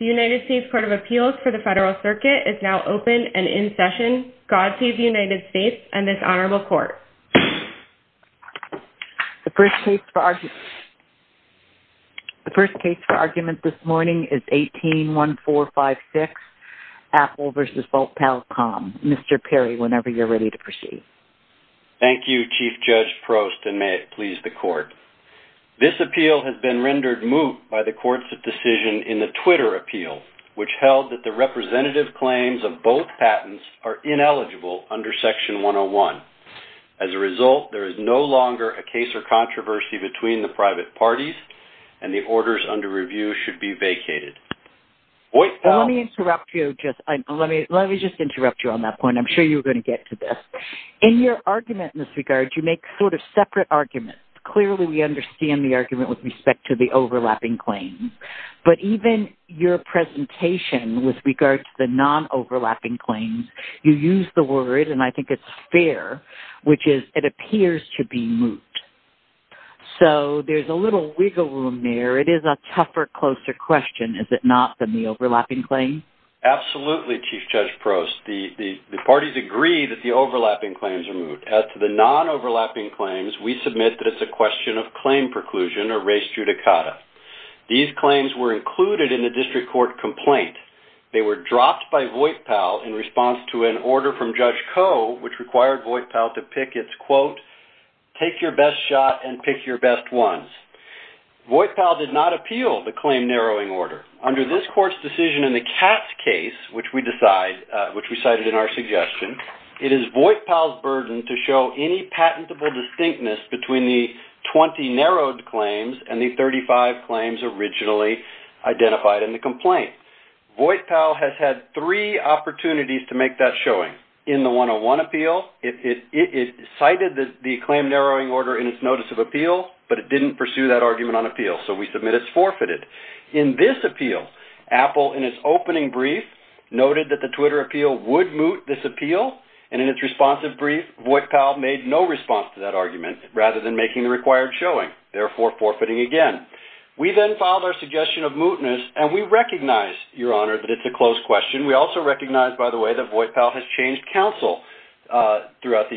The United States Court of Appeals for the Federal Circuit is now open and in session. God save the United States and this Honorable Court. The first case for argument this morning is 18-1456, Apple v. Voip-Pal.com. Mr. Perry, whenever you're ready to proceed. Thank you, Chief Judge Prost, and may it please the Court. This appeal has been rendered moot by the Court's decision in the Twitter appeal, which held that the representative claims of both patents are ineligible under Section 101. As a result, there is no longer a case or controversy between the private parties, and the orders under review should be vacated. Let me just interrupt you on that point. I'm sure you're going to get to this. In your argument in this regard, you make sort of separate arguments. Clearly, we understand the argument with respect to the overlapping claims. But even your presentation with regard to the non-overlapping claims, you use the word, and I think it's fair, which is, it appears to be moot. So, there's a little wiggle room there. It is a tougher, closer question, is it not, than the overlapping claim? Absolutely, Chief Judge Prost. The parties agree that the overlapping claims are moot. As to the non-overlapping claims, we submit that it's a question of claim preclusion or res judicata. These claims were included in the District Court complaint. They were dropped by Voight-Powell in response to an order from Judge Koh, which required Voight-Powell to pick its quote, take your best shot and pick your best ones. Voight-Powell did not appeal the claim narrowing order. Under this court's decision in the Katz case, which we cited in our suggestion, it is Voight-Powell's burden to show any patentable distinctness between the 20 narrowed claims and the 35 claims originally identified in the complaint. Voight-Powell has had three opportunities to make that showing. In the 101 appeal, it cited the claim narrowing order in its notice of appeal, but it didn't pursue that argument on appeal. So, we submit it's forfeited. In this appeal, Apple, in its opening brief, noted that the Twitter appeal would moot this appeal, and in its responsive brief, Voight-Powell made no response to that argument, rather than making the required showing, therefore forfeiting again. We then filed our suggestion of mootness, and we recognize, Your Honor, that it's a close question. We also recognize, by the way, that Voight-Powell has changed counsel during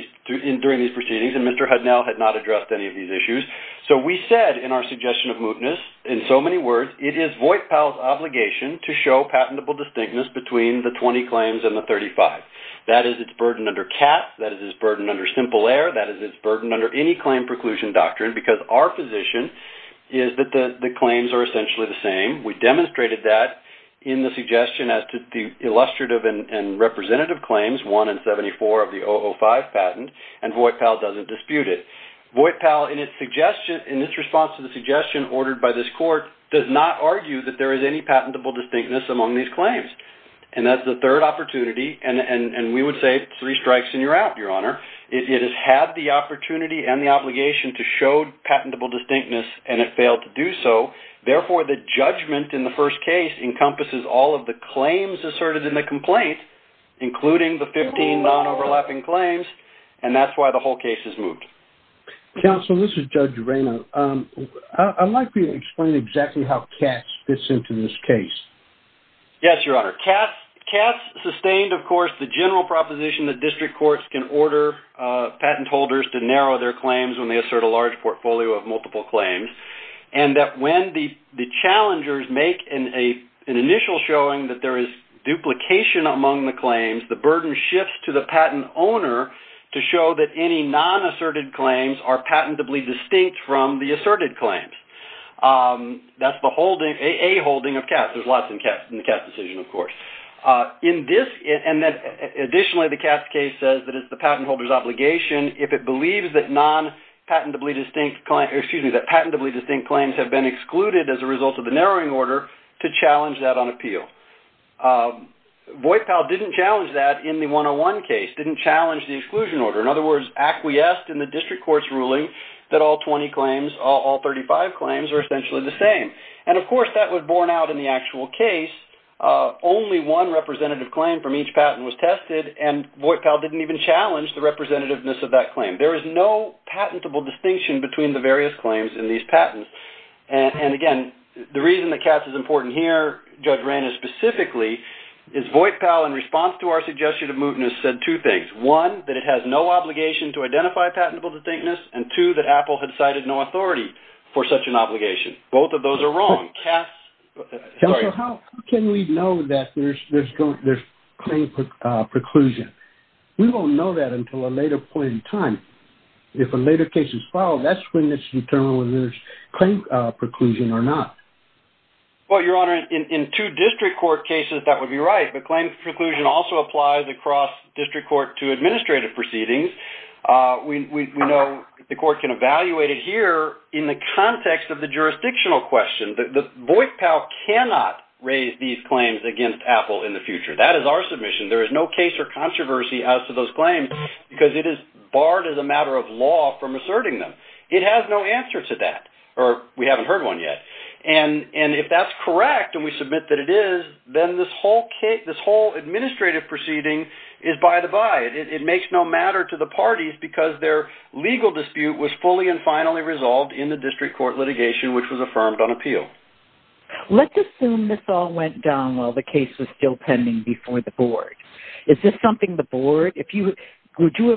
these proceedings, and Mr. Hudnell had not addressed any of these issues. So, we said in our suggestion of mootness, in so many words, it is Voight-Powell's obligation to show patentable distinctness between the 20 claims and the 35. That is its burden under Katz. That is its burden under Simple Air. That is its burden under any claim preclusion doctrine, because our position is that the claims are essentially the same. We demonstrated that in the suggestion as to the illustrative and representative claims, one in 74 of the 005 patent, and Voight-Powell doesn't dispute it. Voight-Powell, in its response to the suggestion ordered by this court, does not argue that there is any patentable distinctness among these claims, and that's the third opportunity, and we would say three strikes and you're out, Your Honor. It has had the opportunity and the obligation to show patentable distinctness, and it failed to do so. Therefore, the judgment in the first case encompasses all of the claims asserted in the complaint, including the 15 non-overlapping claims, and that's why the whole case is moot. Counsel, this is Judge Urena. I'd like for you to explain exactly how Katz fits into this case. Yes, Your Honor. Katz sustained, of course, the general proposition that district courts can order patent holders to narrow their claims when they assert a large portfolio of multiple claims, and that when the challengers make an initial showing that there is duplication among the claims, the burden shifts to the patent owner to show that any non-asserted claims are patentably distinct from the asserted claims. There's lots in the Katz decision, of course. Additionally, the Katz case says that it's the patent holder's obligation, if it believes that patentably distinct claims have been excluded as a result of the narrowing order, to challenge that on appeal. Voight-Powell didn't challenge that in the 101 case, didn't challenge the exclusion order. In other words, acquiesced in the district court's ruling that all 20 claims, all 35 claims, are essentially the same. Of course, that was borne out in the actual case. Only one representative claim from each patent was tested, and Voight-Powell didn't even challenge the representativeness of that claim. There is no patentable distinction between the various claims in these patents. Again, the reason that Katz is important here, Judge Reina specifically, is Voight-Powell, in response to our suggestion of mootness, said two things. One, that it has no obligation to identify patentable distinctness, and two, that Apple had cited no authority for such an obligation. Both of those are wrong. Counsel, how can we know that there's claim preclusion? We won't know that until a later point in time. If a later case is filed, that's when it's determined whether there's claim preclusion or not. Well, Your Honor, in two district court cases, that would be right. But claim preclusion also applies across district court to administrative proceedings. We know the court can evaluate it here in the context of the jurisdictional question. Voight-Powell cannot raise these claims against Apple in the future. That is our submission. There is no case or controversy as to those claims, because it is barred as a matter of law from asserting them. It has no answer to that, or we haven't heard one yet. And if that's correct and we submit that it is, then this whole administrative proceeding is by the by. It makes no matter to the parties, because their legal dispute was fully and finally resolved in the district court litigation, which was affirmed on appeal. Let's assume this all went down while the case was still pending before the board. Is this something the board – could you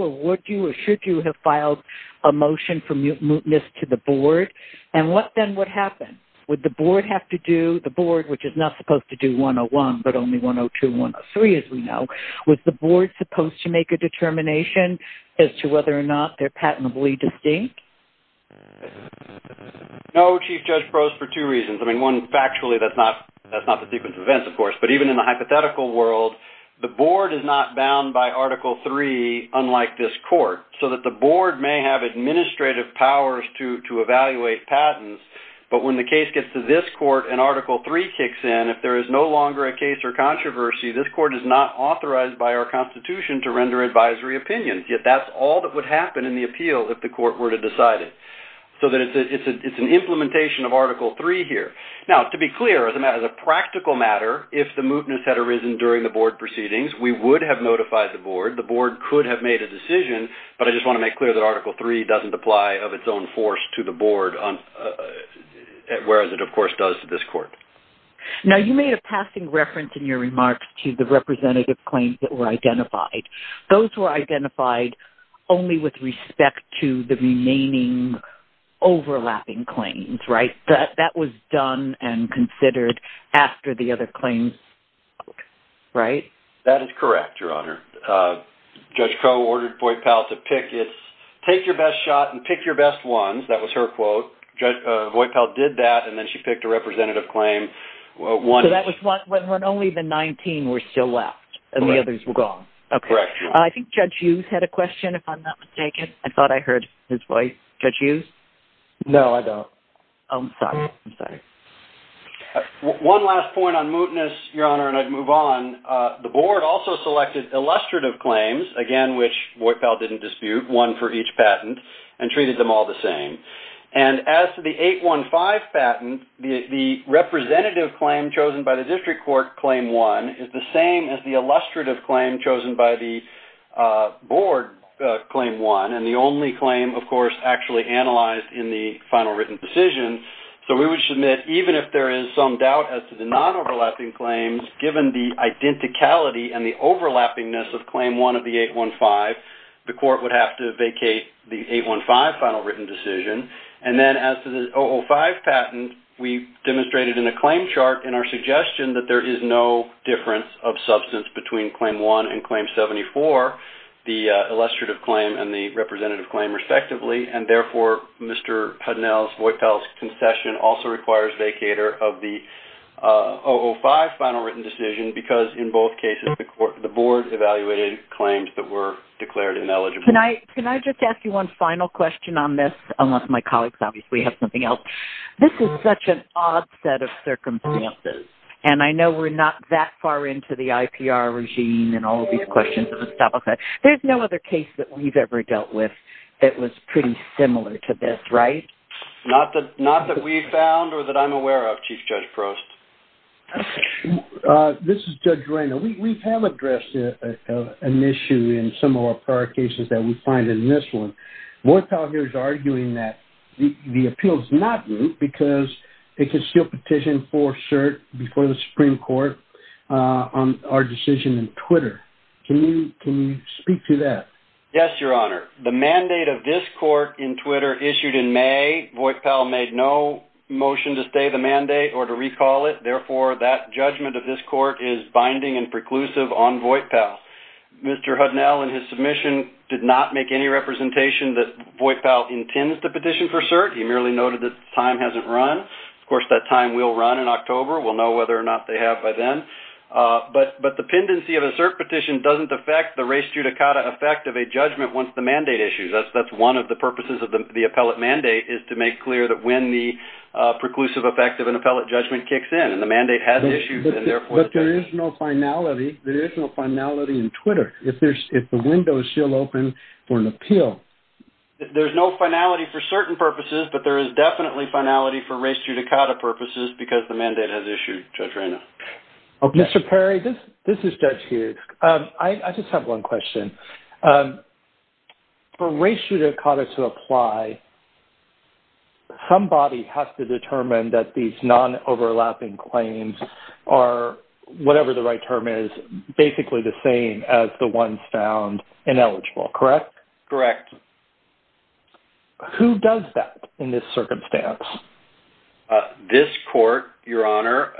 or would you or should you have filed a motion for mootness to the board? And what then would happen? Would the board have to do – the board, which is not supposed to do 101, but only 102 and 103, as we know – was the board supposed to make a determination as to whether or not they're patently distinct? No, Chief Judge Prost, for two reasons. I mean, one, factually that's not the sequence of events, of course. But even in the hypothetical world, the board is not bound by Article III, unlike this court, so that the board may have administrative powers to evaluate patents, but when the case gets to this court and Article III kicks in, if there is no longer a case or controversy, this court is not authorized by our Constitution to render advisory opinions, yet that's all that would happen in the appeal if the court were to decide it. So it's an implementation of Article III here. Now, to be clear, as a practical matter, if the mootness had arisen during the board proceedings, we would have notified the board. The board could have made a decision, but I just want to make clear that Article III doesn't apply of its own force to the board, whereas it, of course, does to this court. Now, you made a passing reference in your remarks to the representative claims that were identified. Those were identified only with respect to the remaining overlapping claims, right? That was done and considered after the other claims, right? That is correct, Your Honor. Judge Crowe ordered Voipel to pick its, take your best shot and pick your best ones. That was her quote. So Voipel did that, and then she picked a representative claim. So that was when only the 19 were still left, and the others were gone. Correct. I think Judge Hughes had a question, if I'm not mistaken. I thought I heard his voice. Judge Hughes? No, I don't. I'm sorry. I'm sorry. One last point on mootness, Your Honor, and I'd move on. The board also selected illustrative claims, again, which Voipel didn't dispute, one for each patent, and treated them all the same. And as to the 815 patent, the representative claim chosen by the district court, Claim 1, is the same as the illustrative claim chosen by the board, Claim 1, and the only claim, of course, actually analyzed in the final written decision. So we would submit, even if there is some doubt as to the non-overlapping claims, given the identicality and the overlappingness of Claim 1 of the 815, the court would have to vacate the 815 final written decision. And then as to the 005 patent, we demonstrated in a claim chart in our suggestion that there is no difference of substance between Claim 1 and Claim 74, the illustrative claim and the representative claim, respectively. And therefore, Mr. Hudnell's Voipel's concession also requires vacater of the 005 final written decision because in both cases the board evaluated claims that were declared ineligible. Can I just ask you one final question on this? Unless my colleagues obviously have something else. This is such an odd set of circumstances, and I know we're not that far into the IPR regime and all of these questions. There's no other case that we've ever dealt with that was pretty similar to this, right? Not that we've found or that I'm aware of, Chief Judge Prost. This is Judge Reina. We have addressed an issue in some of our prior cases that we find in this one. Voipel here is arguing that the appeal is not new because it could seal petition for cert before the Supreme Court on our decision in Twitter. Can you speak to that? Yes, Your Honor. The mandate of this court in Twitter issued in May. Voipel made no motion to stay the mandate or to recall it. Therefore, that judgment of this court is binding and preclusive on Voipel. Mr. Hudnell in his submission did not make any representation that Voipel intends to petition for cert. He merely noted that the time hasn't run. Of course, that time will run in October. We'll know whether or not they have by then. But the pendency of a cert petition doesn't affect the res judicata effect of a judgment once the mandate issues. That's one of the purposes of the appellate mandate, is to make clear that when the preclusive effect of an appellate judgment kicks in and the mandate has issued and therefore is pending. But there is no finality in Twitter if the window is still open for an appeal. There's no finality for certain purposes, but there is definitely finality for res judicata purposes because the mandate has issued, Judge Reyna. Mr. Perry, this is Judge Hughes. I just have one question. For res judicata to apply, somebody has to determine that these non-overlapping claims are, whatever the right term is, basically the same as the ones found ineligible, correct? Correct. Who does that in this circumstance? This court, Your Honor.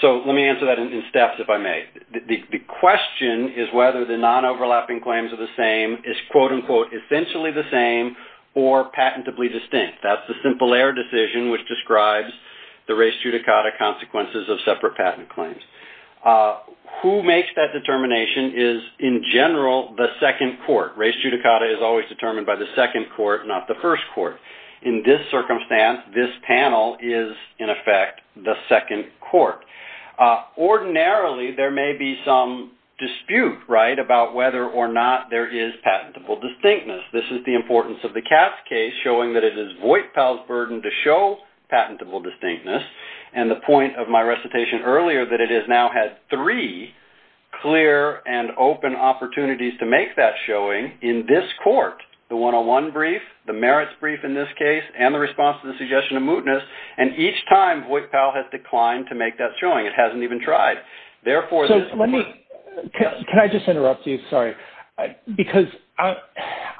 So let me answer that in steps if I may. The question is whether the non-overlapping claims are the same, is quote-unquote essentially the same, or patentably distinct. That's the simple error decision, which describes the res judicata consequences of separate patent claims. Who makes that determination is, in general, the second court. Res judicata is always determined by the second court, not the first court. In this circumstance, this panel is, in effect, the second court. Ordinarily, there may be some dispute, right, about whether or not there is patentable distinctness. This is the importance of the Katz case, showing that it is Voight-Powell's burden to show patentable distinctness, and the point of my recitation earlier that it has now had three clear and open opportunities to make that showing in this court, the 101 brief, the merits brief in this case, and the response to the suggestion of mootness, and each time Voight-Powell has declined to make that showing. It hasn't even tried. Can I just interrupt you, sorry, because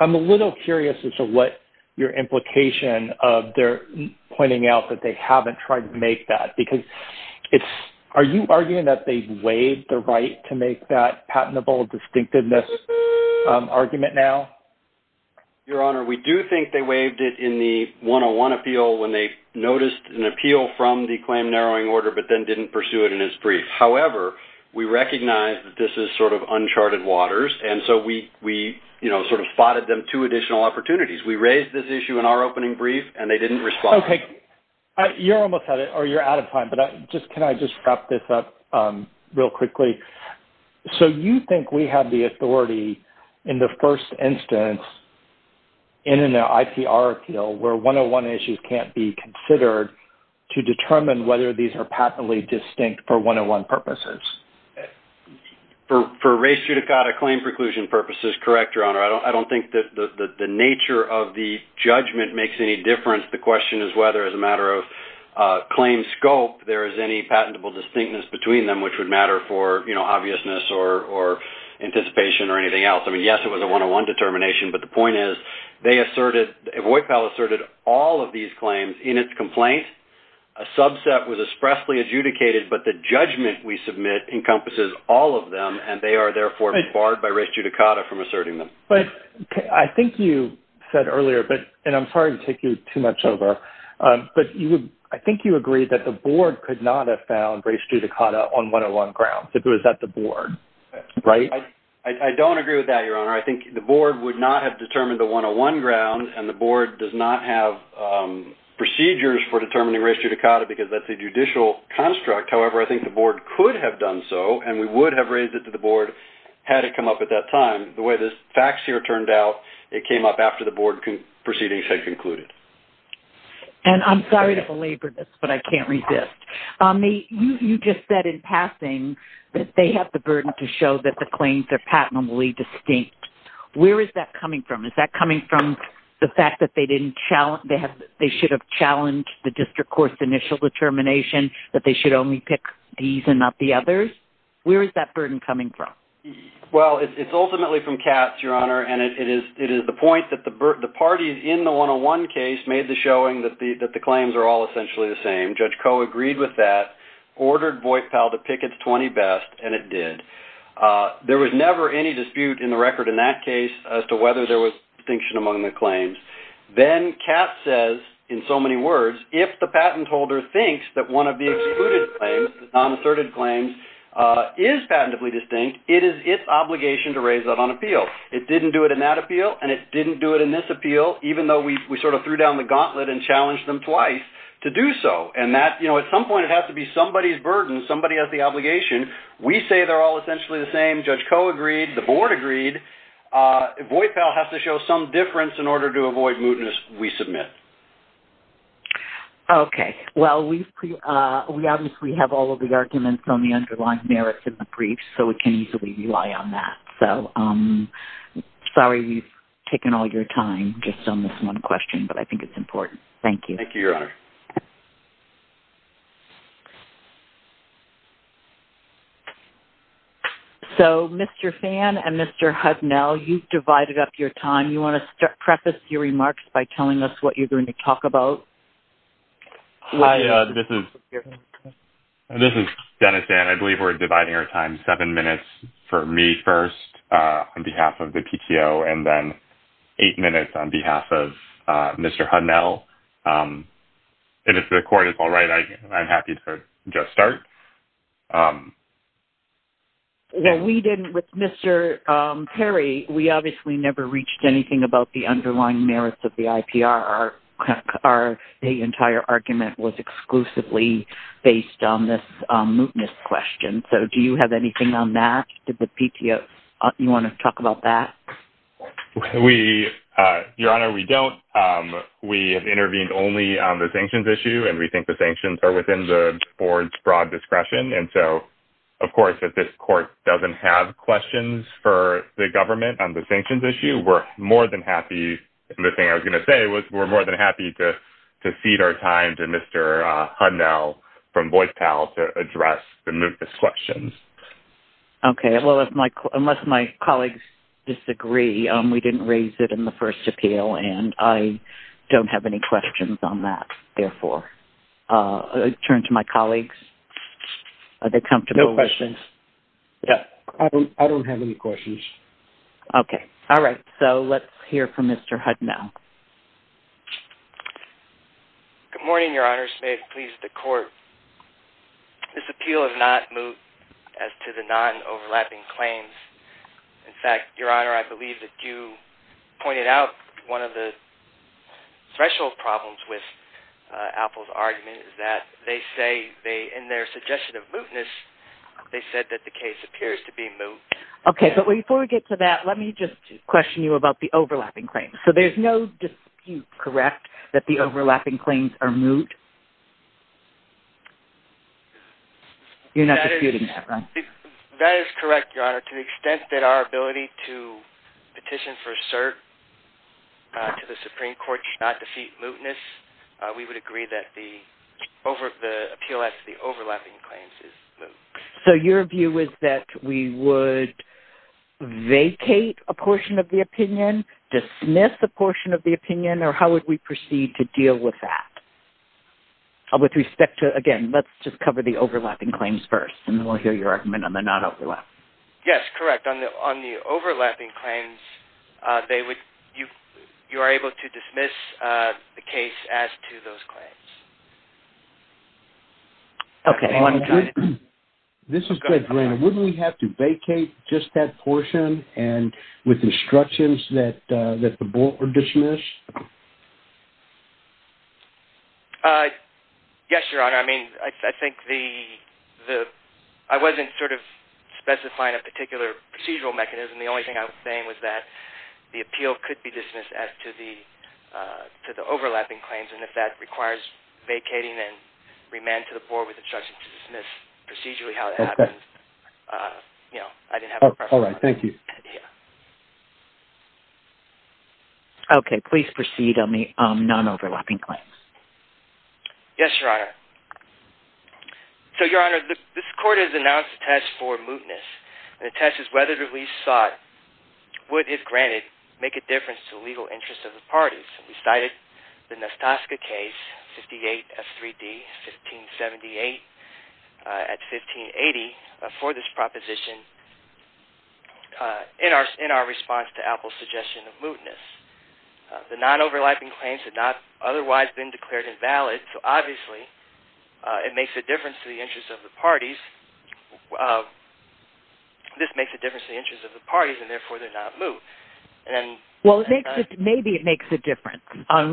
I'm a little curious as to what your implication of their pointing out that they haven't tried to make that, because are you arguing that they've waived the right to make that patentable distinctiveness argument now? Your Honor, we do think they waived it in the 101 appeal when they noticed an appeal from the claim narrowing order but then didn't pursue it in its brief. However, we recognize that this is sort of uncharted waters, and so we sort of spotted them two additional opportunities. We raised this issue in our opening brief, and they didn't respond. Okay. You're almost at it, or you're out of time, but can I just wrap this up real quickly? So you think we have the authority in the first instance in an IPR appeal where 101 issues can't be considered to determine whether these are patently distinct for 101 purposes? For race judicata claim preclusion purposes, correct, Your Honor. I don't think that the nature of the judgment makes any difference. The question is whether, as a matter of claim scope, there is any patentable distinctness between them, which would matter for obviousness or anticipation or anything else. I mean, yes, it was a 101 determination, but the point is they asserted, VoIPAL asserted all of these claims in its complaint. A subset was expressly adjudicated, but the judgment we submit encompasses all of them, and they are therefore barred by race judicata from asserting them. But I think you said earlier, and I'm sorry to take you too much over, but I think you agreed that the board could not have found race judicata on 101 grounds if it was at the board, right? I don't agree with that, Your Honor. I think the board would not have determined a 101 ground, and the board does not have procedures for determining race judicata because that's a judicial construct. However, I think the board could have done so, and we would have raised it to the board had it come up at that time. The way the facts here turned out, it came up after the board proceedings had concluded. And I'm sorry to belabor this, but I can't resist. You just said in passing that they have the burden to show that the claims are patently distinct. Where is that coming from? Is that coming from the fact that they should have challenged the district court's initial determination that they should only pick these and not the others? Where is that burden coming from? Well, it's ultimately from Katz, Your Honor, and it is the point that the parties in the 101 case made the showing that the claims are all essentially the same. Judge Koh agreed with that, ordered Voight-Powell to pick its 20 best, and it did. There was never any dispute in the record in that case as to whether there was distinction among the claims. Then Katz says, in so many words, if the patent holder thinks that one of the excluded claims, the non-asserted claims, is patentably distinct, it is its obligation to raise that on appeal. It didn't do it in that appeal, and it didn't do it in this appeal, even though we sort of threw down the gauntlet and challenged them twice to do so. And at some point it has to be somebody's burden, somebody has the obligation. We say they're all essentially the same. Judge Koh agreed. The board agreed. Voight-Powell has to show some difference in order to avoid mootness. We submit. Okay. Well, we obviously have all of the arguments on the underlying merits in the brief, so we can easily rely on that. So sorry we've taken all your time just on this one question, but I think it's important. Thank you. Thank you, Your Honor. So, Mr. Phan and Mr. Hudnell, you've divided up your time. You want to preface your remarks by telling us what you're going to talk about. Hi. This is Dennis, and I believe we're dividing our time. Seven minutes for me first on behalf of the PTO, and then eight minutes on behalf of Mr. Hudnell. And if the court is all right, I'm happy to just start. Well, we didn't with Mr. Perry. We obviously never reached anything about the underlying merits of the IPR. Our entire argument was exclusively based on this mootness question. So do you have anything on that? Did the PTO, you want to talk about that? We, Your Honor, we don't. We have intervened only on the sanctions issue, and we think the sanctions are within the board's broad discretion. And so, of course, if this court doesn't have questions for the government on the sanctions issue, we're more than happy. The thing I was going to say was we're more than happy to cede our time to Mr. Hudnell from Boyce Powell to address the mootness questions. Okay. Well, unless my colleagues disagree, we didn't raise it in the first appeal, and I don't have any questions on that. Therefore, I turn to my colleagues. Are they comfortable with this? No questions. I don't have any questions. Okay. All right. So let's hear from Mr. Hudnell. Good morning, Your Honors. May it please the court. This appeal is not moot as to the non-overlapping claims. In fact, Your Honor, I believe that you pointed out one of the threshold problems with Apple's argument is that they say in their suggestion of mootness, they said that the case appears to be moot. Okay. But before we get to that, let me just question you about the overlapping claims. So there's no dispute, correct, that the overlapping claims are moot? That is correct, Your Honor. To the extent that our ability to petition for a cert to the Supreme Court should not defeat mootness, we would agree that the appeal as to the overlapping claims is moot. So your view is that we would vacate a portion of the opinion, dismiss a portion of the opinion, or how would we proceed to deal with that? With respect to, again, let's just cover the overlapping claims first, and then we'll hear your argument on the non-overlapping. Yes, correct. On the overlapping claims, you are able to dismiss the case as to those claims. Okay. This is Greg Brannon. Wouldn't we have to vacate just that portion and with instructions that the board would dismiss? Yes, Your Honor. I mean, I think the – I wasn't sort of specifying a particular procedural mechanism. The only thing I was saying was that the appeal could be dismissed as to the overlapping claims, and if that requires vacating and remand to the board with instructions to dismiss procedurally how that happens, you know, I didn't have a preference. All right, thank you. Okay, please proceed on the non-overlapping claims. Yes, Your Honor. So, Your Honor, this court has announced a test for mootness, and the test is whether the release sought would, if granted, make a difference to the legal interests of the parties. We cited the Nastaska case, 58 F3D, 1578 at 1580, for this proposition in our response to Apple's suggestion of mootness. The non-overlapping claims had not otherwise been declared invalid, so obviously it makes a difference to the interests of the parties. This makes a difference to the interests of the parties, and therefore they're not moot. Well, maybe it makes a difference.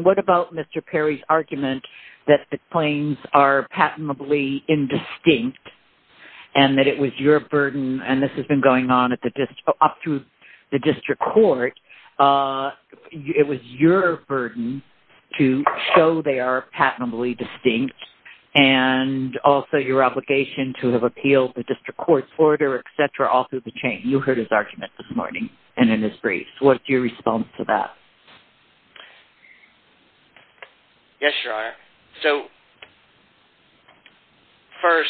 What about Mr. Perry's argument that the claims are patently indistinct and that it was your burden, and this has been going on up through the district court, it was your burden to show they are patently distinct and also your obligation to have appealed the district court's order, etc., all through the chain. You heard his argument this morning and in his briefs. What's your response to that? Yes, Your Honor. So, first,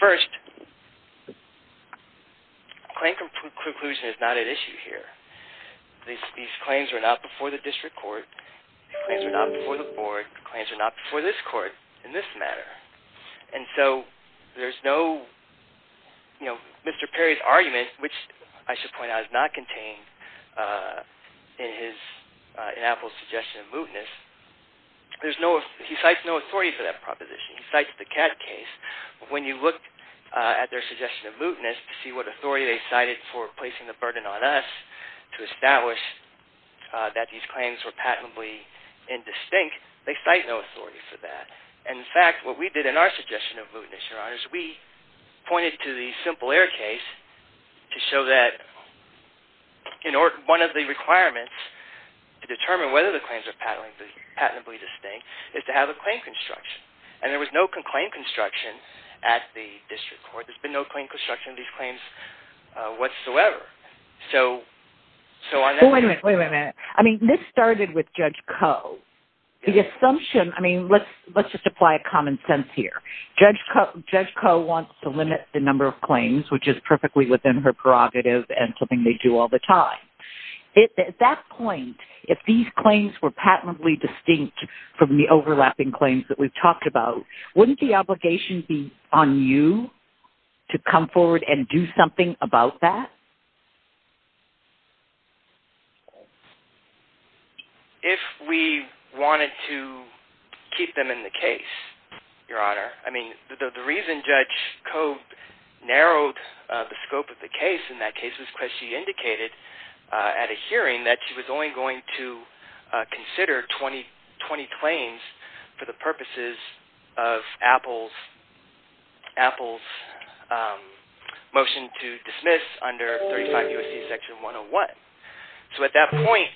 first, claim conclusion is not at issue here. These claims are not before the district court, these claims are not before the board, the claims are not before this court in this matter, and so there's no, you know, Mr. Perry's argument, which I should point out is not contained in Apple's suggestion of mootness. He cites no authority for that proposition. He cites the Catt case. When you look at their suggestion of mootness to see what authority they cited for placing the burden on us to establish that these claims were patently indistinct, they cite no authority for that. In fact, what we did in our suggestion of mootness, Your Honor, is we pointed to the Simple Air case to show that one of the requirements to determine whether the claims are patently distinct is to have a claim construction, and there was no claim construction at the district court. There's been no claim construction of these claims whatsoever. Wait a minute, wait a minute. I mean, this started with Judge Koh. The assumption, I mean, let's just apply common sense here. Judge Koh wants to limit the number of claims, which is perfectly within her prerogative and something they do all the time. At that point, if these claims were patently distinct from the overlapping claims that we've talked about, wouldn't the obligation be on you to come forward and do something about that? If we wanted to keep them in the case, Your Honor. I mean, the reason Judge Koh narrowed the scope of the case in that case was because she indicated at a hearing that she was only going to consider 20 claims for the purposes of Apple's motion to dismiss under 35 U.S.C. Section 101. So at that point,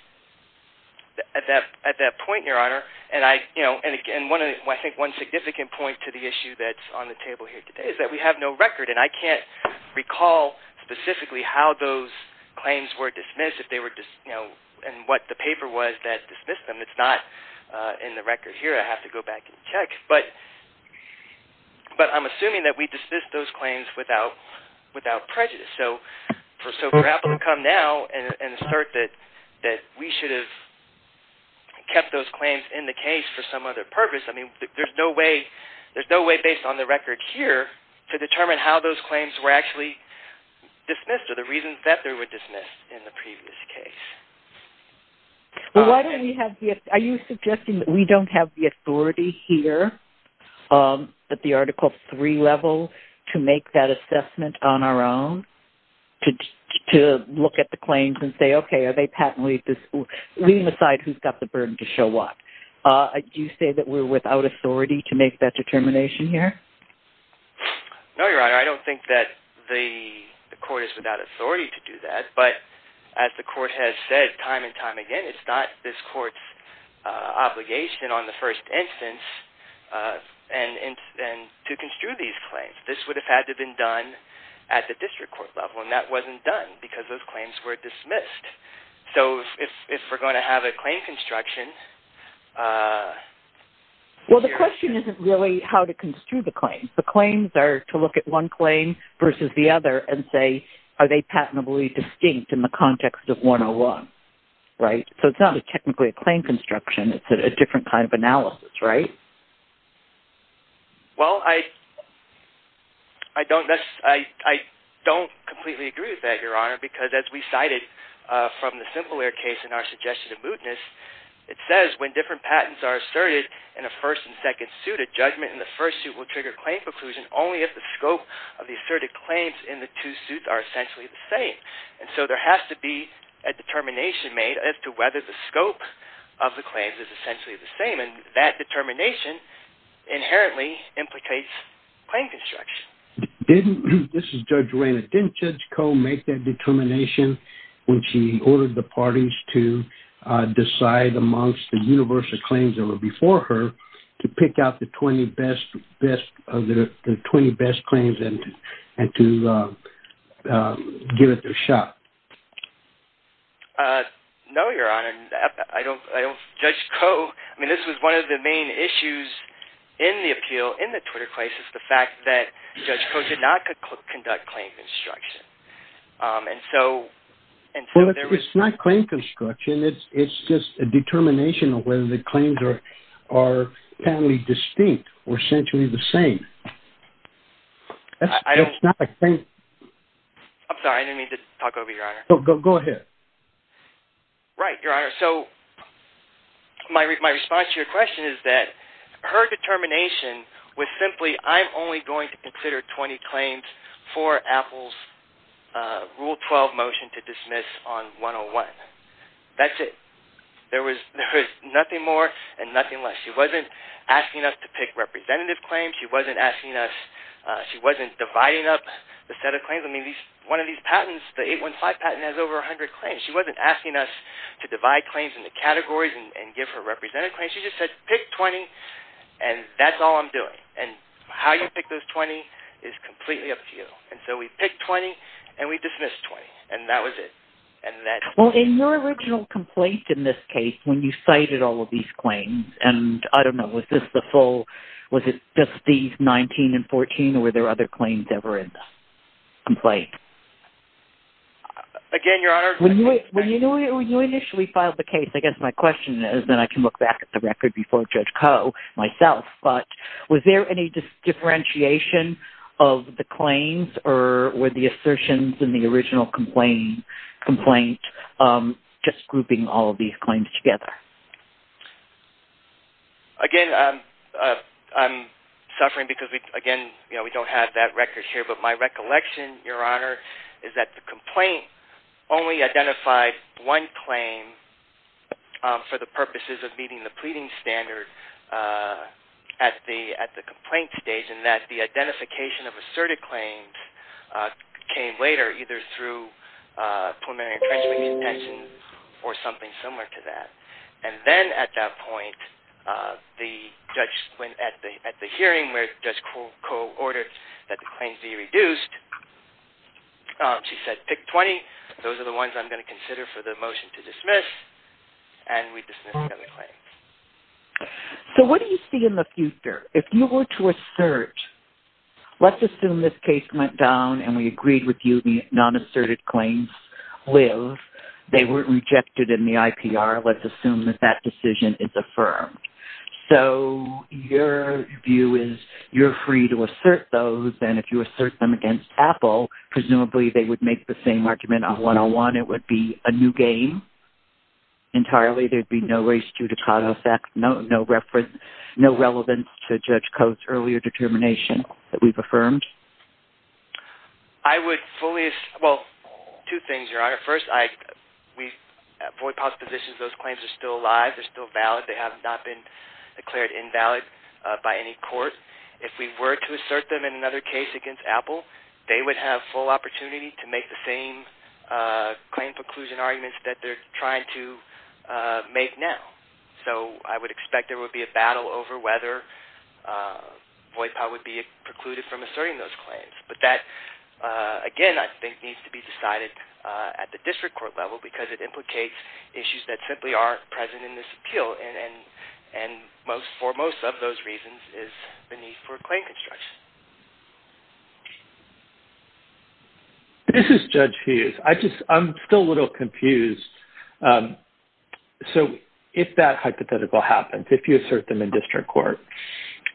Your Honor, and I think one significant point to the issue that's on the table here today is that we have no record, and I can't recall specifically how those claims were dismissed and what the paper was that dismissed them. It's not in the record here. I have to go back and check. But I'm assuming that we dismissed those claims without prejudice. So for Apple to come now and assert that we should have kept those claims in the case for some other purpose, I mean, there's no way based on the record here to determine how those claims were actually dismissed or the reasons that they were dismissed in the previous case. Are you suggesting that we don't have the authority here at the Article III level to make that assessment on our own to look at the claims and say, okay, are they patently— leaving aside who's got the burden to show what. Do you say that we're without authority to make that determination here? No, Your Honor. I don't think that the court is without authority to do that. But as the court has said time and time again, it's not this court's obligation on the first instance to construe these claims. This would have had to have been done at the district court level, and that wasn't done because those claims were dismissed. So if we're going to have a claim construction— Well, the question isn't really how to construe the claims. The claims are to look at one claim versus the other and say are they patently distinct in the context of 101, right? So it's not technically a claim construction. It's a different kind of analysis, right? Well, I don't completely agree with that, Your Honor, because as we cited from the Simpleware case in our suggestion of mootness, it says when different patents are asserted in a first and second suit, a judgment in the first suit will trigger claim preclusion only if the scope of the asserted claims in the two suits are essentially the same. And so there has to be a determination made as to whether the scope of the claims is essentially the same. And that determination inherently implicates claim construction. This is Judge Reyna. Didn't Judge Koh make that determination when she ordered the parties to decide amongst the universal claims that were before her to pick out the 20 best claims and to give it their shot? No, Your Honor. Judge Koh, I mean, this was one of the main issues in the appeal, in the Twitter case, is the fact that Judge Koh did not conduct claim construction. Well, it's not claim construction. It's just a determination of whether the claims are patently distinct or essentially the same. I'm sorry. I didn't mean to talk over you, Your Honor. Go ahead. Right, Your Honor. So my response to your question is that her determination was simply, I'm only going to consider 20 claims for Apple's Rule 12 motion to dismiss on 101. That's it. There was nothing more and nothing less. She wasn't asking us to pick representative claims. She wasn't dividing up the set of claims. One of these patents, the 815 patent, has over 100 claims. She wasn't asking us to divide claims into categories and give her representative claims. She just said, pick 20, and that's all I'm doing. And how you pick those 20 is completely up to you. And so we picked 20, and we dismissed 20, and that was it. Well, in your original complaint in this case, when you cited all of these claims, and I don't know, was this the full, was it just these 19 and 14, or were there other claims that were in the complaint? Again, Your Honor. When you initially filed the case, I guess my question is, and then I can look back at the record before Judge Koh, myself, but was there any differentiation of the claims, or were the assertions in the original complaint just grouping all of these claims together? Again, I'm suffering because, again, we don't have that record here, but my recollection, Your Honor, is that the complaint only identified one claim for the purposes of meeting the pleading standard at the complaint stage, and that the identification of asserted claims came later, either through preliminary intrinsic contention or something similar to that. And then at that point, at the hearing where Judge Koh ordered that the claims be reduced, she said, Pick 20. Those are the ones I'm going to consider for the motion to dismiss, and we dismissed seven claims. So what do you see in the future? Your Honor, if you were to assert, let's assume this case went down and we agreed with you the non-asserted claims live. They weren't rejected in the IPR. Let's assume that that decision is affirmed. So your view is you're free to assert those, and if you assert them against Apple, presumably they would make the same argument on 101. It would be a new game entirely. Presumably there would be no race judicata effect, no relevance to Judge Koh's earlier determination that we've affirmed. I would fully assert, well, two things, Your Honor. First, at Voight-Potts positions, those claims are still alive. They're still valid. They have not been declared invalid by any court. If we were to assert them in another case against Apple, they would have full opportunity to make the same claim conclusion arguments that they're trying to make now. So I would expect there would be a battle over whether Voight-Potts would be precluded from asserting those claims. But that, again, I think needs to be decided at the district court level because it implicates issues that simply aren't present in this appeal, and for most of those reasons is the need for claim construction. This is Judge Hughes. I'm still a little confused. So if that hypothetical happens, if you assert them in district court,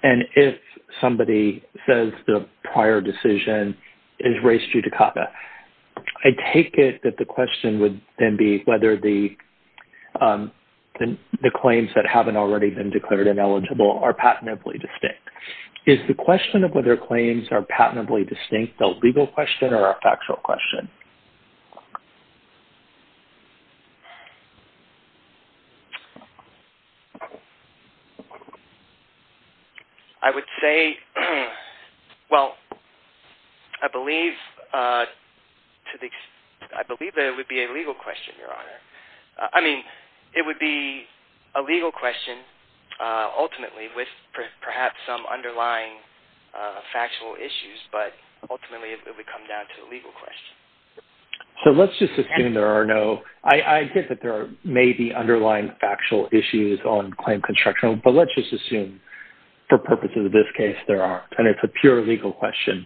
and if somebody says the prior decision is race judicata, I take it that the question would then be whether the claims that haven't already been declared ineligible are patently distinct. Is the question of whether claims are patently distinct a legal question or a factual question? I would say, well, I believe that it would be a legal question, Your Honor. I mean, it would be a legal question, ultimately, with perhaps some underlying factual issues, but ultimately it would come down to a legal question. So let's just assume there are no – I get that there may be underlying factual issues on claim construction, but let's just assume for purposes of this case there aren't, and it's a pure legal question.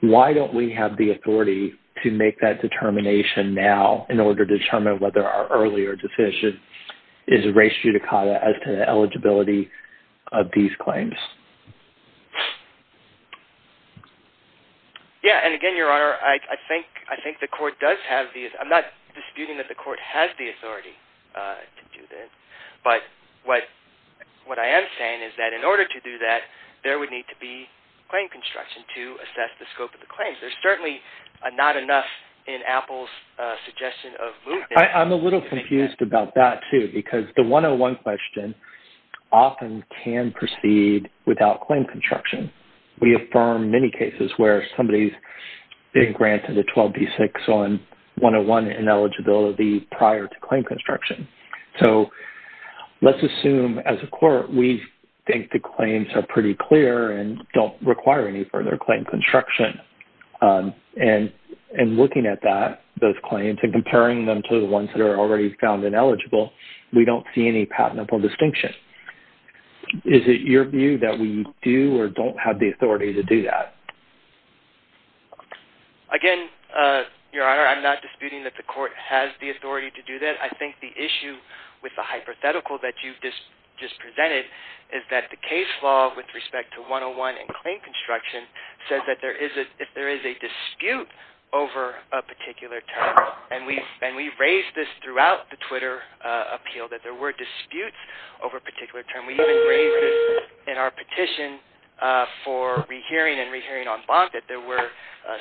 Why don't we have the authority to make that determination now in order to determine whether our earlier decision is race judicata as to the eligibility of these claims? Yeah, and again, Your Honor, I think the court does have the – I'm not disputing that the court has the authority to do this, but what I am saying is that in order to do that, there would need to be claim construction to assess the scope of the claims. There's certainly not enough in Apple's suggestion of movement. I'm a little confused about that, too, because the 101 question often can proceed without claim construction. We affirm many cases where somebody's been granted a 12B6 on 101 in eligibility prior to claim construction. So let's assume as a court we think the claims are pretty clear and don't require any further claim construction, and looking at that, those claims, and comparing them to the ones that are already found ineligible, we don't see any patentable distinction. Is it your view that we do or don't have the authority to do that? Again, Your Honor, I'm not disputing that the court has the authority to do that. I think the issue with the hypothetical that you just presented is that the case law with respect to 101 and claim construction says that if there is a dispute over a particular term, and we've raised this throughout the Twitter appeal, that there were disputes over a particular term. We even raised this in our petition for re-hearing and re-hearing en banc that there were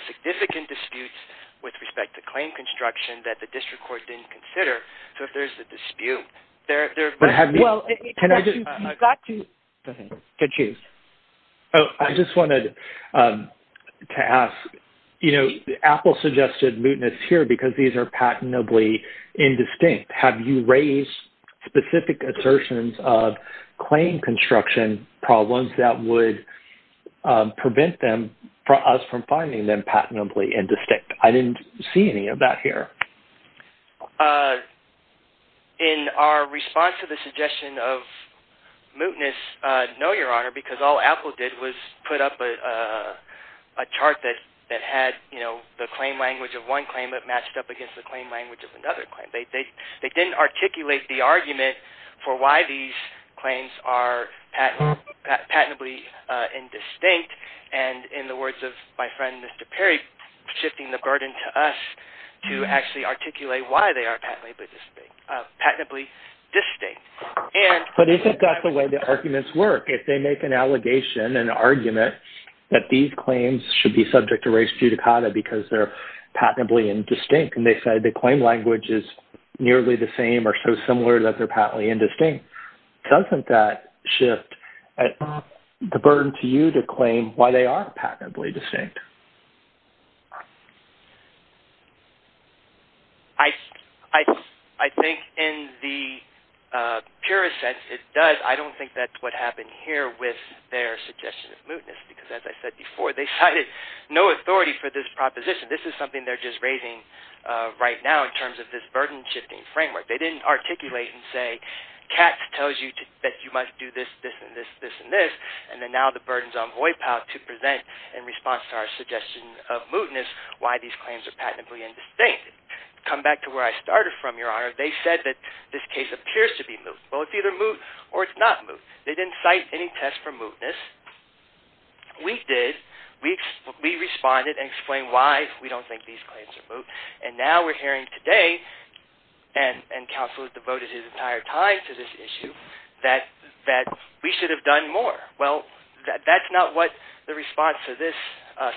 significant disputes with respect to claim construction that the district court didn't consider. So if there's a dispute, there have been. You've got to choose. I just wanted to ask, Apple suggested mootness here because these are patentably indistinct. Have you raised specific assertions of claim construction problems that would prevent us from finding them patentably indistinct? I didn't see any of that here. In our response to the suggestion of mootness, no, Your Honor, because all Apple did was put up a chart that had the claim language of one claim that matched up against the claim language of another claim. They didn't articulate the argument for why these claims are patentably indistinct, and in the words of my friend Mr. Perry, they're shifting the burden to us to actually articulate why they are patentably distinct. But isn't that the way the arguments work? If they make an allegation, an argument, that these claims should be subject to race judicata because they're patentably indistinct, and they say the claim language is nearly the same or so similar that they're patently indistinct, doesn't that shift the burden to you to claim why they are patentably distinct? I think in the purest sense it does. I don't think that's what happened here with their suggestion of mootness because, as I said before, they cited no authority for this proposition. This is something they're just raising right now in terms of this burden-shifting framework. They didn't articulate and say, Katz tells you that you must do this, this, and this, this, and this, and then now the burden's on Hoi Pao to present in response to our suggestion of mootness why these claims are patentably indistinct. To come back to where I started from, Your Honor, they said that this case appears to be moot. Well, it's either moot or it's not moot. They didn't cite any test for mootness. We did. We responded and explained why we don't think these claims are moot, and now we're hearing today, and counsel has devoted his entire time to this issue, that we should have done more. Well, that's not what the response to this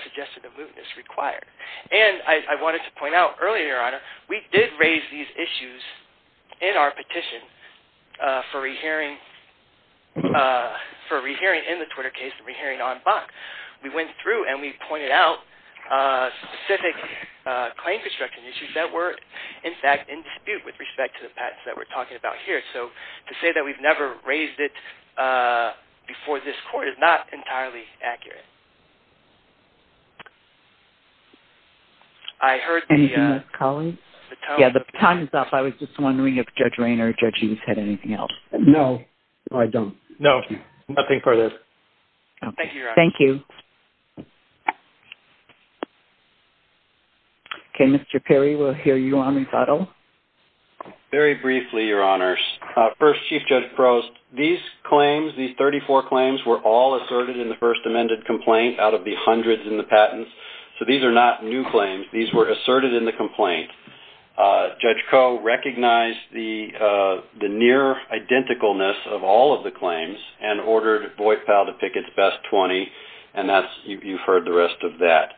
suggestion of mootness required. And I wanted to point out earlier, Your Honor, we did raise these issues in our petition for re-hearing in the Twitter case and re-hearing on BAC. We went through and we pointed out specific claim construction issues that were, in fact, in dispute with respect to the patents that we're talking about here. So to say that we've never raised it before this court is not entirely accurate. I heard the... Anything else, colleagues? Yeah, the time is up. I was just wondering if Judge Raynor or Judge Hughes had anything else. No, I don't. No, nothing further. Thank you, Your Honor. Thank you. Okay, Mr. Perry, we'll hear you on recital. Very briefly, Your Honors. First, Chief Judge Prost, these claims, these 34 claims, were all asserted in the first amended complaint out of the hundreds in the patents. So these are not new claims. These were asserted in the complaint. Judge Koh recognized the near-identicalness of all of the claims and ordered Voight-Powell to pick its best 20, and you've heard the rest of that.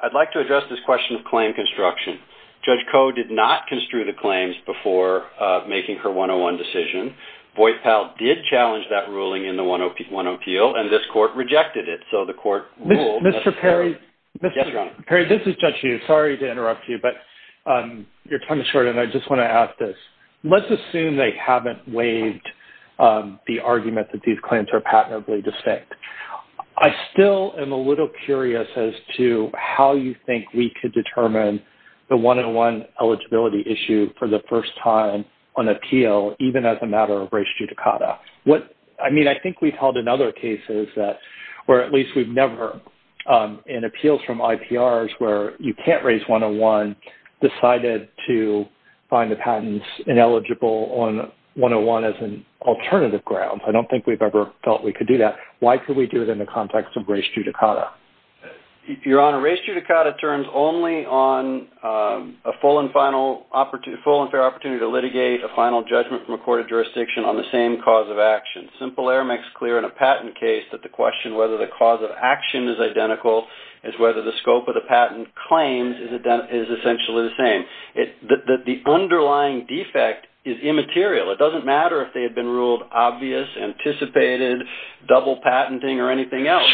I'd like to address this question of claim construction. Judge Koh did not construe the claims before making her 101 decision. Voight-Powell did challenge that ruling in the 101 appeal, and this court rejected it. So the court ruled... Mr. Perry. Yes, Your Honor. Perry, this is Judge Hughes. Sorry to interrupt you, but your time is short, and I just want to ask this. Let's assume they haven't waived the argument that these claims are patently distinct. I still am a little curious as to how you think we could determine the 101 eligibility issue for the first time on appeal, even as a matter of res judicata. I mean, I think we've held in other cases where at least we've never, in appeals from IPRs where you can't raise 101, decided to find the patents ineligible on 101 as an alternative ground. I don't think we've ever felt we could do that. Why could we do it in the context of res judicata? Your Honor, res judicata turns only on a full and fair opportunity to litigate a final judgment from a court of jurisdiction on the same cause of action. Simple error makes clear in a patent case that the question whether the cause of action is identical is whether the scope of the patent claims is essentially the same. The underlying defect is immaterial. It doesn't matter if they had been ruled obvious, anticipated, double patenting or anything else.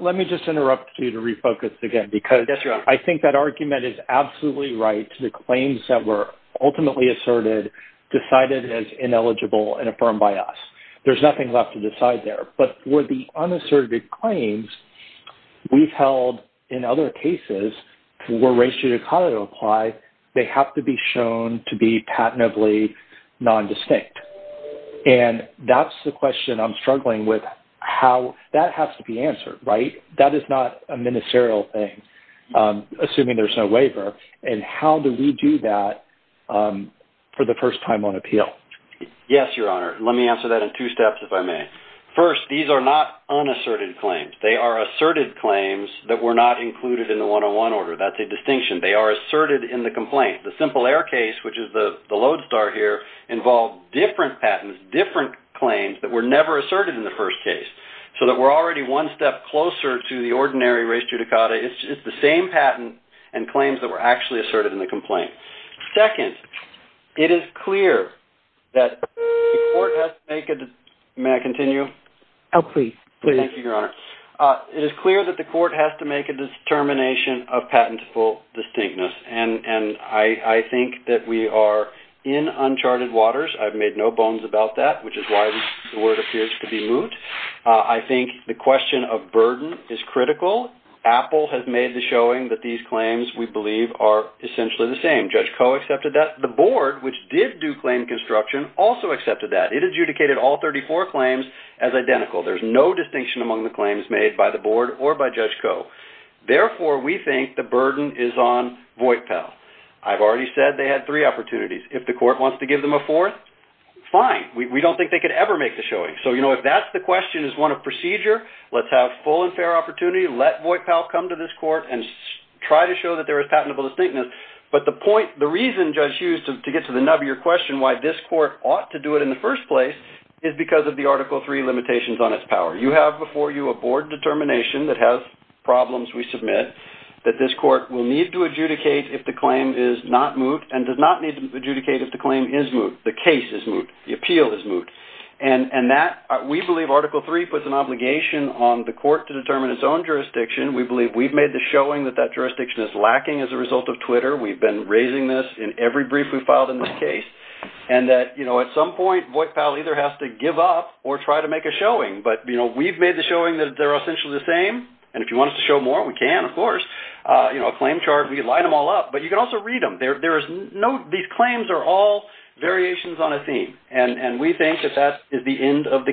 Let me just interrupt you to refocus again because I think that argument is absolutely right. The claims that were ultimately asserted decided as ineligible and affirmed by us. There's nothing left to decide there. But for the unasserted claims we've held in other cases where res judicata apply, they have to be shown to be patently nondistinct. And that's the question I'm struggling with how that has to be answered, right? That is not a ministerial thing, assuming there's no waiver. And how do we do that for the first time on appeal? Yes, Your Honor. Let me answer that in two steps if I may. First, these are not unasserted claims. They are asserted claims that were not included in the 101 order. That's a distinction. They are asserted in the complaint. The Simple Air case, which is the lodestar here, involved different patents, different claims that were never asserted in the first case, so that we're already one step closer to the ordinary res judicata. It's the same patent and claims that were actually asserted in the complaint. Second, it is clear that the court has to make a determination. May I continue? Oh, please. Thank you, Your Honor. It is clear that the court has to make a determination of patentable distinctness, and I think that we are in uncharted waters. I've made no bones about that, which is why the word appears to be moot. I think the question of burden is critical. Apple has made the showing that these claims, we believe, are essentially the same. Judge Koh accepted that. The board, which did do claim construction, also accepted that. It adjudicated all 34 claims as identical. There's no distinction among the claims made by the board or by Judge Koh. Therefore, we think the burden is on Voight-Pell. I've already said they had three opportunities. If the court wants to give them a fourth, fine. We don't think they could ever make the showing. So, you know, if that's the question as one of procedure, let's have full and fair opportunity. Let Voight-Pell come to this court and try to show that there is patentable distinctness. But the point, the reason, Judge Hughes, to get to the nub of your question, why this court ought to do it in the first place, is because of the Article III limitations on its power. You have before you a board determination that has problems, we submit, that this court will need to adjudicate if the claim is not moot and does not need to adjudicate if the claim is moot, the case is moot, the appeal is moot. And that, we believe Article III puts an obligation on the court to determine its own jurisdiction. We believe we've made the showing that that jurisdiction is lacking as a result of Twitter. We've been raising this in every brief we've filed in this case. And that, you know, at some point, Voight-Pell either has to give up or try to make a showing. But, you know, we've made the showing that they're essentially the same. And if you want us to show more, we can, of course. You know, a claim chart, we can line them all up. But you can also read them. There is no, these claims are all variations on a theme. And we think that that is the end of the case.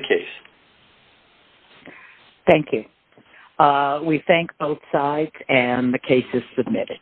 Thank you. We thank both sides. And the case is submitted.